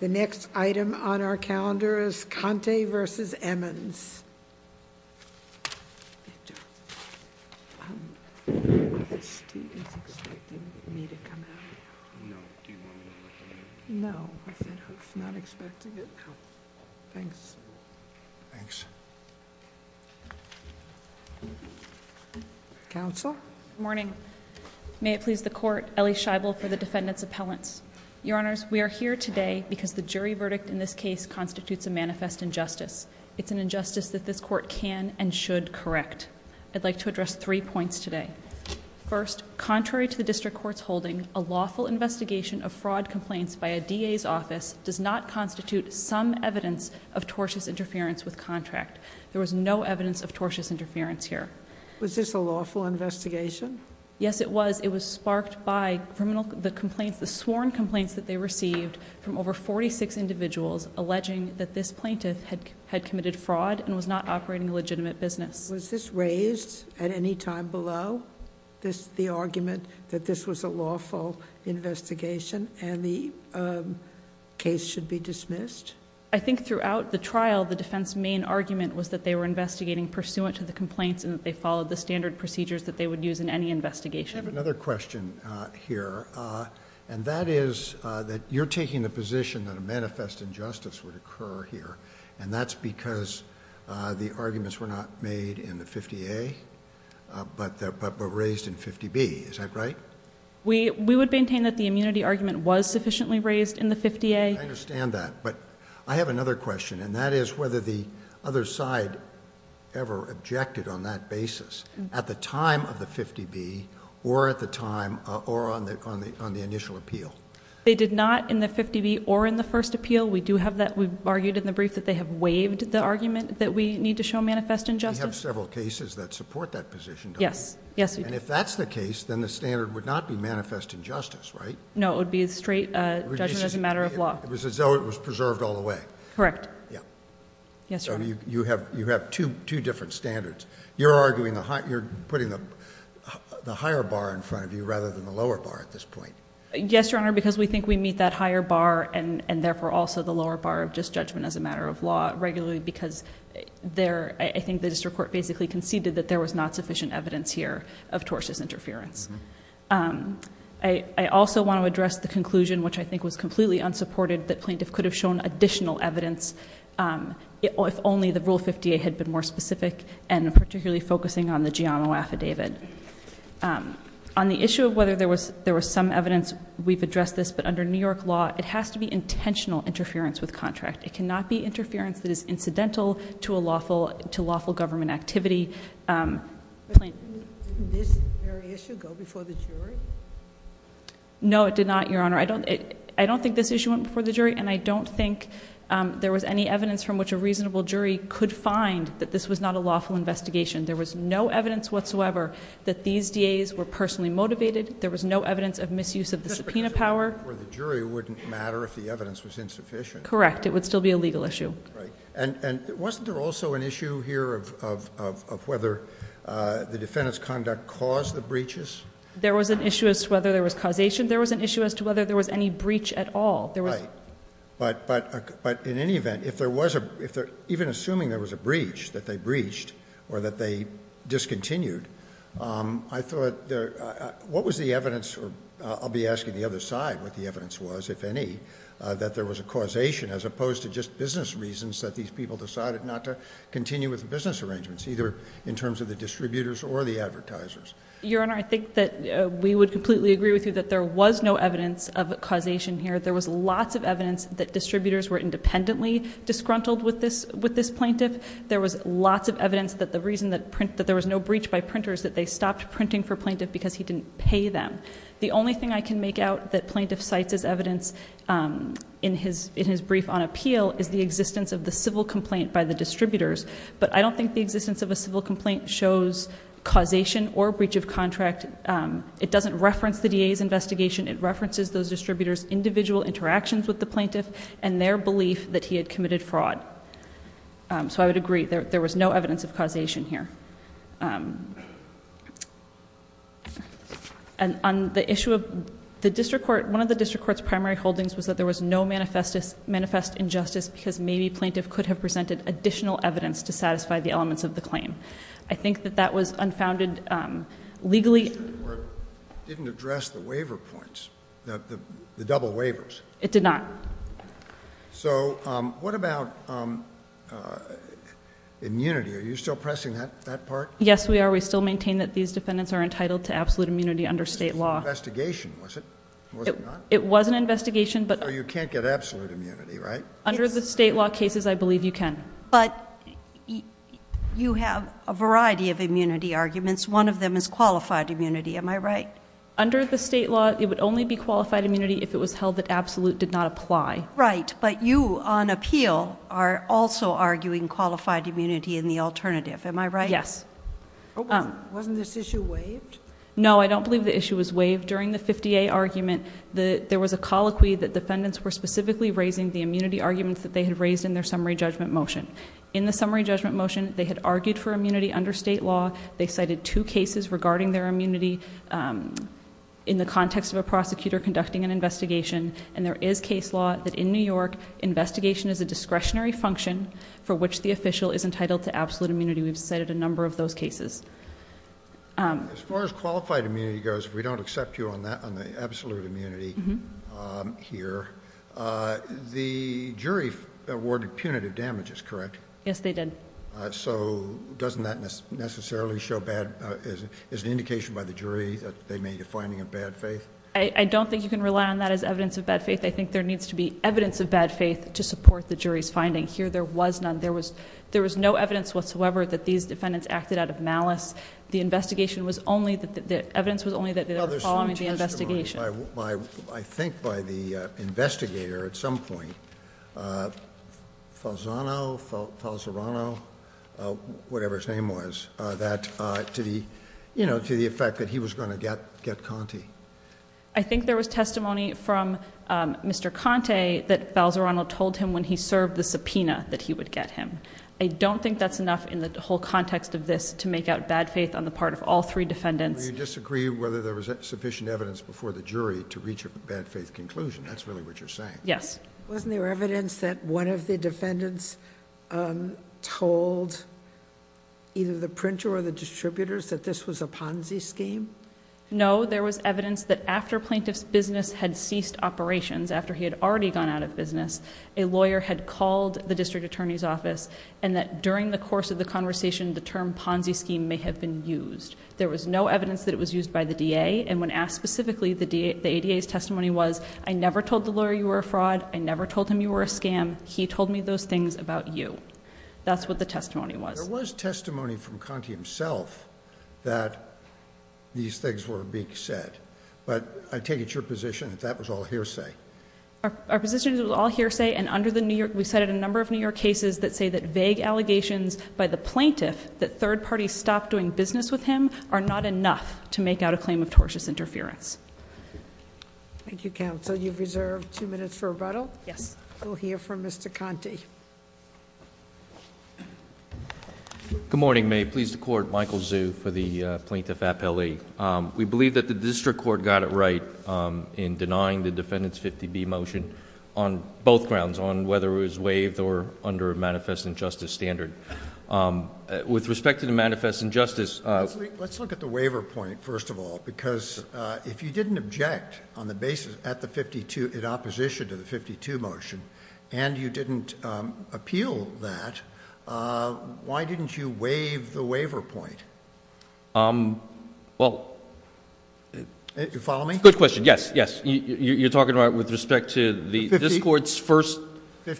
The next item on our calendar is Conte v. Emmons. Counsel? Good morning. May it please the court, Ellie Scheibel for the defendant's appellants. Your honors, we are here today because the jury verdict in this case constitutes a manifest injustice. It's an injustice that this court can and should correct. I'd like to address three points today. First, contrary to the district court's holding, a lawful investigation of fraud complaints by a DA's office does not constitute some evidence of tortious interference with contract. There was no evidence of tortious interference here. Was this a lawful investigation? Yes, it was. It was sparked by the sworn complaints that they received from over 46 individuals alleging that this plaintiff had committed fraud and was not operating a legitimate business. Was this raised at any time below the argument that this was a lawful investigation and the case should be dismissed? I think throughout the trial, the defense's main argument was that they were investigating pursuant to the complaints and that they followed the standard procedures that they would use in any investigation. I have another question here, and that is that you're taking the position that a manifest injustice would occur here, and that's because the arguments were not made in the 50A, but were raised in 50B. Is that right? We would maintain that the immunity argument was sufficiently raised in the 50A. I understand that, but I have another question, and that is whether the other side ever objected on that basis at the time of the 50B or on the initial appeal. They did not in the 50B or in the first appeal. We've argued in the brief that they have waived the argument that we need to show manifest injustice. We have several cases that support that position, don't we? Yes, we do. And if that's the case, then the standard would not be manifest injustice, right? No, it would be a straight judgment as a matter of law. It was as though it was preserved all the way. Correct. Yeah. Yes, Your Honor. So you have two different standards. You're putting the higher bar in front of you rather than the lower bar at this point. Yes, Your Honor, because we think we meet that higher bar and therefore also the lower bar of just judgment as a matter of law regularly because I think the district court basically conceded that there was not sufficient evidence here of tortious interference. I also want to address the conclusion, which I think was completely unsupported, that plaintiff could have shown additional evidence if only the Rule 58 had been more specific and particularly focusing on the Giamo affidavit. On the issue of whether there was some evidence, we've addressed this, but under New York law, it has to be intentional interference with contract. It cannot be interference that is incidental to lawful government activity. Didn't this very issue go before the jury? No, it did not, Your Honor. I don't think this issue went before the jury, and I don't think there was any evidence from which a reasonable jury could find that this was not a lawful investigation. There was no evidence whatsoever that these DAs were personally motivated. There was no evidence of misuse of the subpoena power. Just because it went before the jury wouldn't matter if the evidence was insufficient. Correct. It would still be a legal issue. Right. And wasn't there also an issue here of whether the defendant's conduct caused the breaches? There was an issue as to whether there was causation. There was an issue as to whether there was any breach at all. Right. But in any event, even assuming there was a breach, that they breached or that they discontinued, I thought what was the evidence, or I'll be asking the other side what the evidence was, if any, that there was a causation as opposed to just business reasons that these people decided not to continue with the business arrangements, either in terms of the distributors or the advertisers. Your Honor, I think that we would completely agree with you that there was no evidence of causation here. There was lots of evidence that distributors were independently disgruntled with this plaintiff. There was lots of evidence that the reason that there was no breach by printer is that they stopped printing for plaintiff because he didn't pay them. The only thing I can make out that plaintiff cites as evidence in his brief on appeal is the existence of the civil complaint by the distributors. But I don't think the existence of a civil complaint shows causation or breach of contract. It doesn't reference the DA's investigation. It references those distributors' individual interactions with the plaintiff and their belief that he had committed fraud. So I would agree there was no evidence of causation here. And on the issue of the district court, one of the district court's primary holdings was that there was no manifest injustice because maybe plaintiff could have presented additional evidence to satisfy the elements of the claim. I think that that was unfounded legally. It didn't address the waiver points, the double waivers. It did not. So what about immunity? Are you still pressing that part? Yes, we are. We still maintain that these defendants are entitled to absolute immunity under state law. It was an investigation, was it? It was an investigation. So you can't get absolute immunity, right? Under the state law cases, I believe you can. But you have a variety of immunity arguments. One of them is qualified immunity. Am I right? Under the state law, it would only be qualified immunity if it was held that absolute did not apply. Right. But you, on appeal, are also arguing qualified immunity in the alternative. Am I right? Yes. Wasn't this issue waived? No, I don't believe the issue was waived. During the 50A argument, there was a colloquy that defendants were specifically raising the immunity arguments that they had raised in their summary judgment motion. In the summary judgment motion, they had argued for immunity under state law. They cited two cases regarding their immunity in the context of a prosecutor conducting an investigation. And there is case law that in New York, investigation is a discretionary function for which the official is entitled to absolute immunity. We've cited a number of those cases. As far as qualified immunity goes, we don't accept you on the absolute immunity here. The jury awarded punitive damages, correct? Yes, they did. So doesn't that necessarily show bad, as an indication by the jury, that they made a finding of bad faith? I don't think you can rely on that as evidence of bad faith. I think there needs to be evidence of bad faith to support the jury's finding. Here, there was none. There was no evidence whatsoever that these defendants acted out of malice. The investigation was only, the evidence was only that they were following the investigation. I think by the investigator at some point, Falzano, Falzerano, whatever his name was, that to the effect that he was going to get Conte. I think there was testimony from Mr. Conte that Falzerano told him when he served the subpoena that he would get him. I don't think that's enough in the whole context of this to make out bad faith on the part of all three defendants. You disagree whether there was sufficient evidence before the jury to reach a bad faith conclusion. That's really what you're saying. Yes. Wasn't there evidence that one of the defendants told either the printer or the distributors that this was a Ponzi scheme? No, there was evidence that after plaintiff's business had ceased operations, after he had already gone out of business, a lawyer had called the district attorney's office and that during the course of the conversation, the term Ponzi scheme may have been used. There was no evidence that it was used by the DA. And when asked specifically, the ADA's testimony was, I never told the lawyer you were a fraud. I never told him you were a scam. He told me those things about you. That's what the testimony was. There was testimony from Conte himself that these things were being said. But I take it's your position that that was all hearsay. Our position is it was all hearsay. And under the New York, we cited a number of New York cases that say that vague allegations by the plaintiff, that third parties stopped doing business with him, are not enough to make out a claim of tortious interference. Thank you, counsel. You've reserved two minutes for rebuttal. Yes. We'll hear from Mr. Conte. Good morning, May. Pleased to court. Michael Zhu for the Plaintiff Appellee. We believe that the district court got it right in denying the defendant's 50B motion on both grounds, on whether it was waived or under a manifest injustice standard. With respect to the manifest injustice... Let's look at the waiver point, first of all, because if you didn't object on the basis at the 52... in opposition to the 52 motion, and you didn't appeal that, why didn't you waive the waiver point? Well... You follow me? Good question. Yes, yes. You're talking about with respect to the district court's first...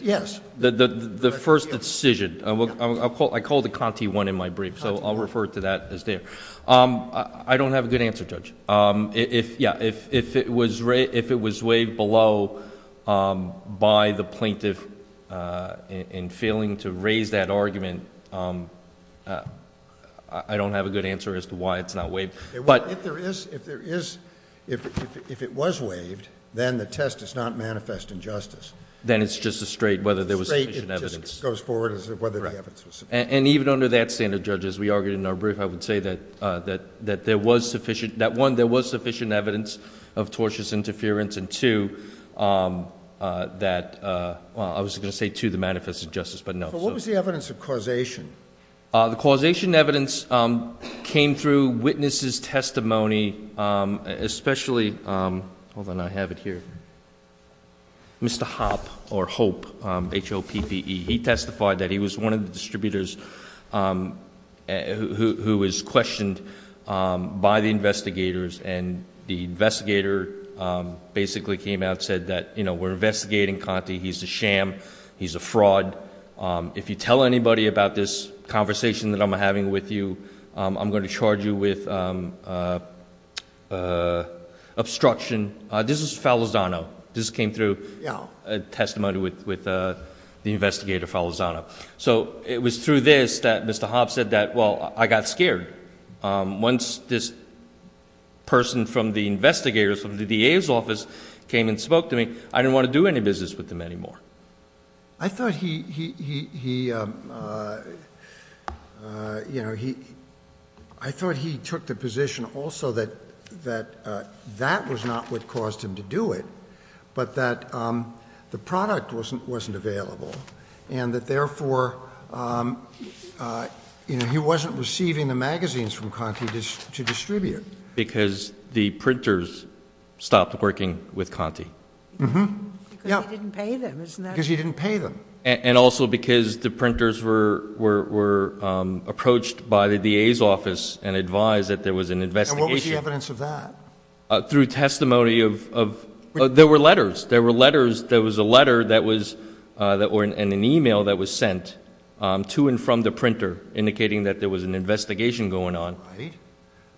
Yes. The first decision. I called it Conte 1 in my brief, so I'll refer to that as there. I don't have a good answer, Judge. If it was waived below by the plaintiff in failing to raise that argument, I don't have a good answer as to why it's not waived. If it was waived, then the test is not manifest injustice. Then it's just a straight whether there was sufficient evidence. It just goes forward as whether the evidence was sufficient. Even under that standard, Judge, as we argued in our brief, I would say that 1, there was sufficient evidence of tortious interference, and 2, that... I was going to say 2, the manifest injustice, but no. What was the evidence of causation? The causation evidence came through witnesses' testimony, especially... Hold on, I have it here. Mr. Hoppe, or Hope, H-O-P-P-E, he testified that he was one of the distributors who was questioned by the investigators. The investigator basically came out and said that we're investigating Conte. He's a sham. He's a fraud. If you tell anybody about this conversation that I'm having with you, I'm going to charge you with obstruction. This is Falazano. This came through testimony with the investigator, Falazano. So, it was through this that Mr. Hoppe said that, well, I got scared. Once this person from the investigators, from the DA's office, came and spoke to me, I didn't want to do any business with them anymore. I thought he took the position also that that was not what caused him to do it, but that the product wasn't available, and that, therefore, he wasn't receiving the magazines from Conte to distribute. Because the printers stopped working with Conte. Because he didn't pay them, isn't that right? Because he didn't pay them. And also because the printers were approached by the DA's office and advised that there was an investigation. And what was the evidence of that? Through testimony of, there were letters. There were letters. There was a letter that was, and an e-mail that was sent to and from the printer indicating that there was an investigation going on.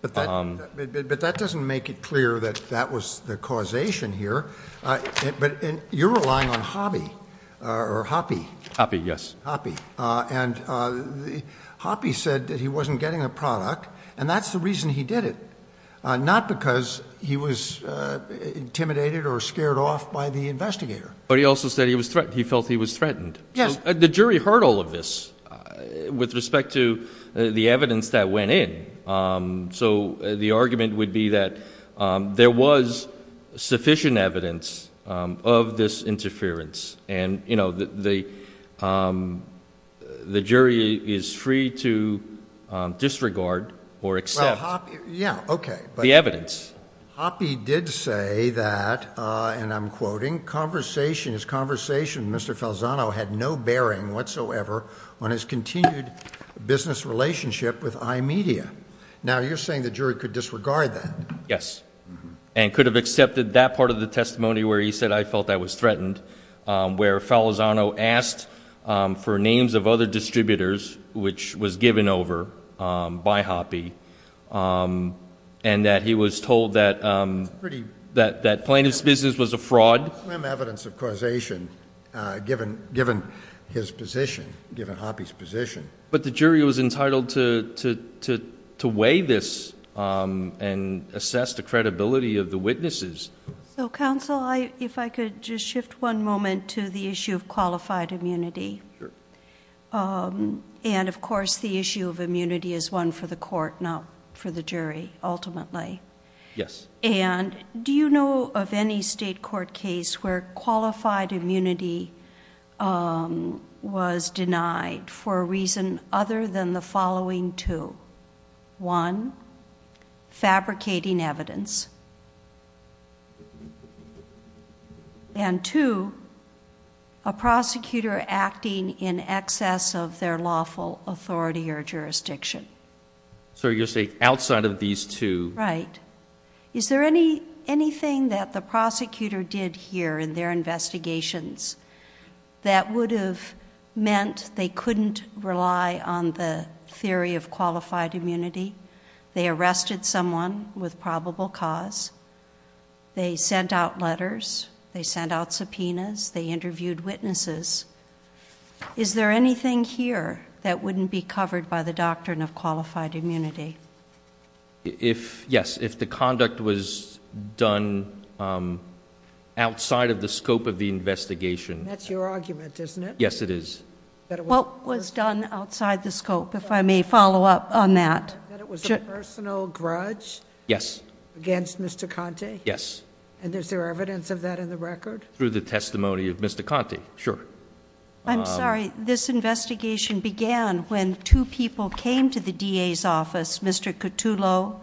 But that doesn't make it clear that that was the causation here. But you're relying on Hoppe. Or Hoppe. Hoppe, yes. Hoppe. And Hoppe said that he wasn't getting a product, and that's the reason he did it, not because he was intimidated or scared off by the investigator. But he also said he felt he was threatened. Yes. The jury heard all of this with respect to the evidence that went in. So the argument would be that there was sufficient evidence of this interference. And, you know, the jury is free to disregard or accept the evidence. Yes. Hoppe did say that, and I'm quoting, his conversation with Mr. Falzano had no bearing whatsoever on his continued business relationship with iMedia. Now, you're saying the jury could disregard that. Yes. And could have accepted that part of the testimony where he said, I felt I was threatened, where Falzano asked for names of other distributors, which was given over by Hoppe, and that he was told that plaintiff's business was a fraud? Slim evidence of causation, given his position, given Hoppe's position. But the jury was entitled to weigh this and assess the credibility of the witnesses. So, counsel, if I could just shift one moment to the issue of qualified immunity. Sure. And, of course, the issue of immunity is one for the court, not for the jury, ultimately. Yes. And do you know of any state court case where qualified immunity was denied for a reason other than the following two? One, fabricating evidence. And two, a prosecutor acting in excess of their lawful authority or jurisdiction. So you're saying outside of these two. Right. Is there anything that the prosecutor did here in their investigations that would have meant they couldn't rely on the theory of qualified immunity? They arrested someone with probable cause. They sent out letters. They sent out subpoenas. They interviewed witnesses. Is there anything here that wouldn't be covered by the doctrine of qualified immunity? Yes. If the conduct was done outside of the scope of the investigation. That's your argument, isn't it? Yes, it is. What was done outside the scope, if I may follow up on that? That it was a personal grudge against Mr. Conte? Yes. And is there evidence of that in the record? Through the testimony of Mr. Conte. Sure. I'm sorry. This investigation began when two people came to the DA's office, Mr. Cotullo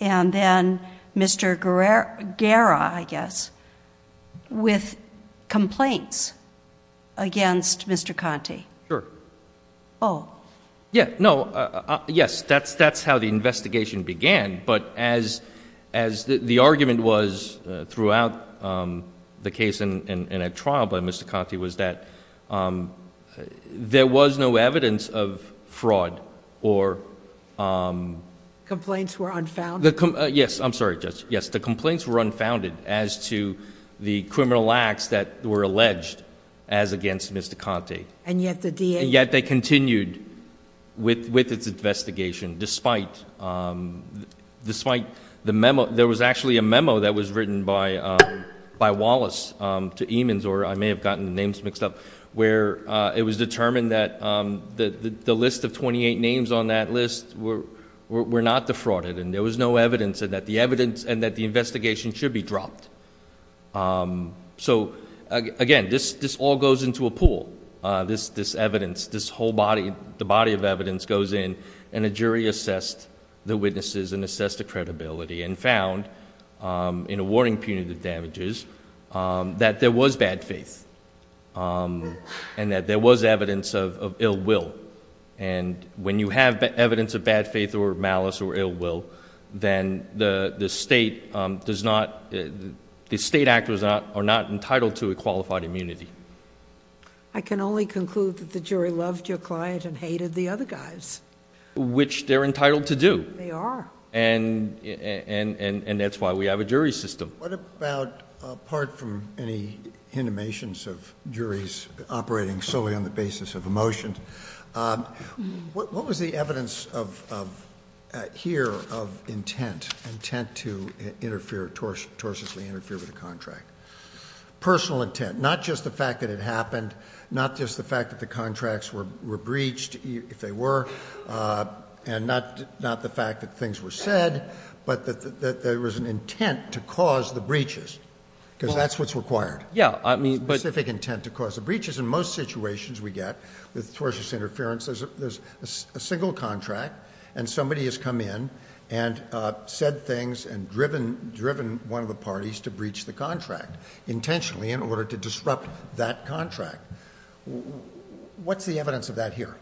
and then Mr. Guerra, I guess, with complaints against Mr. Conte. Sure. Oh. Yes. That's how the investigation began. But as the argument was throughout the case in a trial by Mr. Conte was that there was no evidence of fraud or... Complaints were unfounded? Yes. I'm sorry, Judge. Yes. The complaints were unfounded as to the criminal acts that were alleged as against Mr. Conte. And yet the DA... With its investigation, despite the memo... There was actually a memo that was written by Wallace to Eamons, or I may have gotten the names mixed up... Where it was determined that the list of 28 names on that list were not defrauded. And there was no evidence and that the evidence and that the investigation should be dropped. So, again, this all goes into a pool. This evidence, this whole body, the body of evidence goes in and a jury assessed the witnesses and assessed the credibility. And found, in awarding punitive damages, that there was bad faith. And that there was evidence of ill will. And when you have evidence of bad faith or malice or ill will, then the state does not... The state actors are not entitled to a qualified immunity. I can only conclude that the jury loved your client and hated the other guys. Which they're entitled to do. They are. And that's why we have a jury system. What about, apart from any intimations of juries operating solely on the basis of emotion... What was the evidence of... here of intent? Intent to interfere, tortuously interfere with a contract? Personal intent. Not just the fact that it happened. Not just the fact that the contracts were breached, if they were. And not the fact that things were said. But that there was an intent to cause the breaches. Because that's what's required. Yeah, I mean... Specific intent to cause the breaches. In most situations we get, with tortuous interference, there's a single contract. And somebody has come in and said things and driven one of the parties to breach the contract. Intentionally, in order to disrupt that contract. What's the evidence of that here?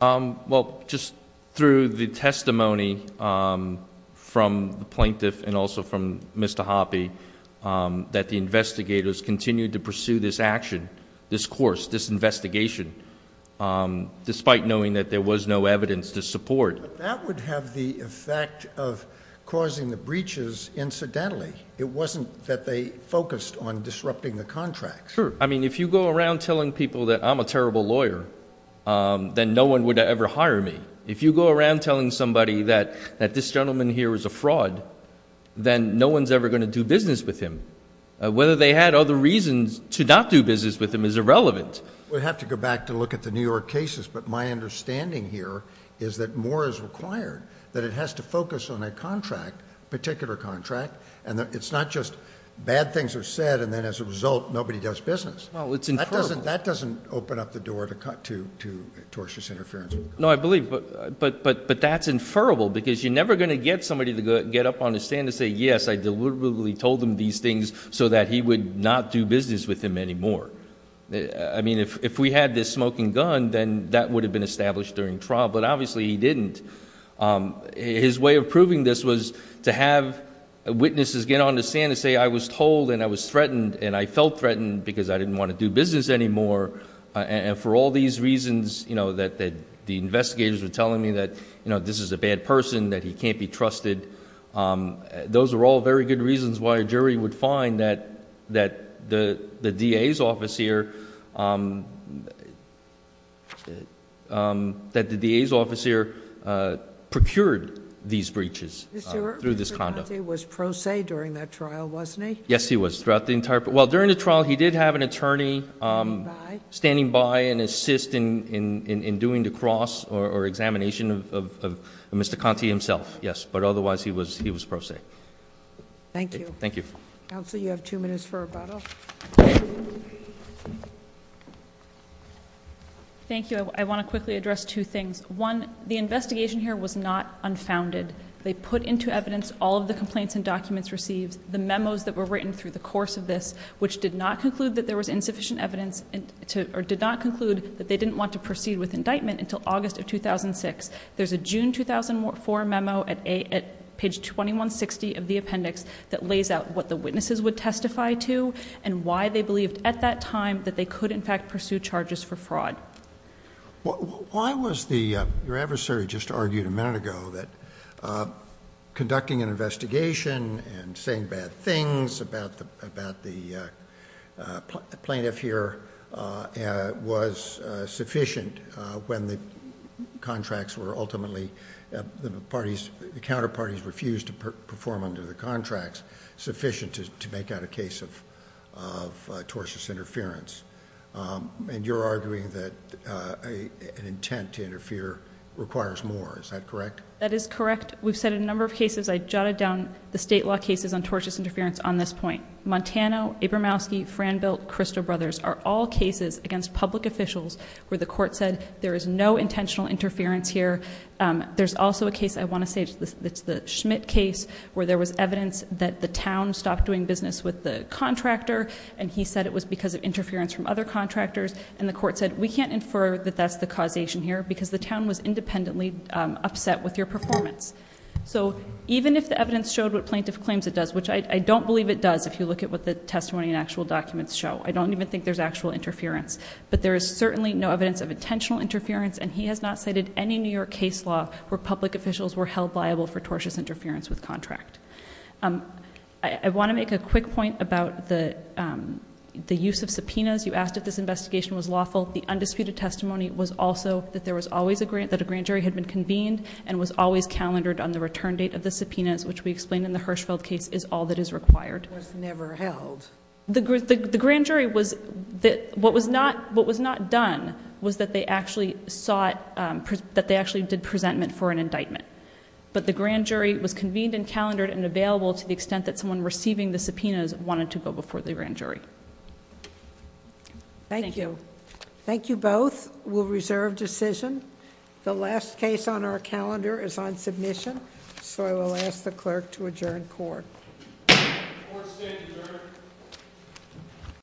Well, just through the testimony from the plaintiff and also from Mr. Hoppe... That the investigators continued to pursue this action, this course, this investigation. Despite knowing that there was no evidence to support. That would have the effect of causing the breaches incidentally. It wasn't that they focused on disrupting the contracts. Sure. I mean, if you go around telling people that I'm a terrible lawyer, then no one would ever hire me. If you go around telling somebody that this gentleman here is a fraud, then no one's ever going to do business with him. Whether they had other reasons to not do business with him is irrelevant. We have to go back to look at the New York cases. But my understanding here is that more is required. That it has to focus on a contract, a particular contract. And it's not just bad things are said, and then as a result, nobody does business. Well, it's inferrable. That doesn't open up the door to tortious interference. No, I believe. But that's inferrable, because you're never going to get somebody to get up on his stand and say, yes, I deliberately told him these things so that he would not do business with him anymore. I mean, if we had this smoking gun, then that would have been established during trial. But obviously, he didn't. His way of proving this was to have witnesses get on the stand and say, I was told, and I was threatened, and I felt threatened because I didn't want to do business anymore. And for all these reasons, that the investigators were telling me that this is a bad person, that he can't be trusted. Those are all very good reasons why a jury would find that the DA's office here procured these breaches through this conduct. Mr. Conte was pro se during that trial, wasn't he? Yes, he was. Well, during the trial, he did have an attorney standing by and assist in doing the cross or examination of Mr. Conte himself, yes. But otherwise, he was pro se. Thank you. Thank you. Counsel, you have two minutes for rebuttal. Thank you. I want to quickly address two things. One, the investigation here was not unfounded. They put into evidence all of the complaints and documents received, the memos that were written through the course of this, which did not conclude that there was insufficient evidence, or did not conclude that they didn't want to proceed with indictment until August of 2006. There's a June 2004 memo at page 2160 of the appendix that lays out what the witnesses would testify to and why they believed at that time that they could, in fact, pursue charges for fraud. Why was the, your adversary just argued a minute ago that conducting an investigation and saying bad things about the plaintiff here was sufficient when the contracts were ultimately, the parties, the counterparties refused to perform under the contracts, sufficient to make out a case of tortious interference? And you're arguing that an intent to interfere requires more. Is that correct? That is correct. We've said a number of cases. I jotted down the state law cases on tortious interference on this point. Montana, Abramowski, Franbilt, Crystal Brothers are all cases against public officials where the court said there is no intentional interference here. There's also a case, I want to say it's the Schmidt case, where there was evidence that the town stopped doing business with the contractor and he said it was because of interference from other contractors and the court said we can't infer that that's the causation here because the town was independently upset with your performance. So even if the evidence showed what plaintiff claims it does, which I don't believe it does if you look at what the testimony and actual documents show. I don't even think there's actual interference. But there is certainly no evidence of intentional interference and he has not cited any New York case law where public officials were held liable for tortious interference with contract. I want to make a quick point about the use of subpoenas. You asked if this investigation was lawful. The undisputed testimony was also that there was always a grant, that a grand jury had been convened and was always calendared on the return date of the subpoenas, which we explained in the Hirschfeld case is all that is required. It was never held. The grand jury was... what was not done was that they actually sought... that they actually did presentment for an indictment. But the grand jury was convened and calendared and available to the extent that someone receiving the subpoenas wanted to go before the grand jury. Thank you. Thank you both. We'll reserve decision. The last case on our calendar is on submission. So I will ask the clerk to adjourn court. Court is adjourned.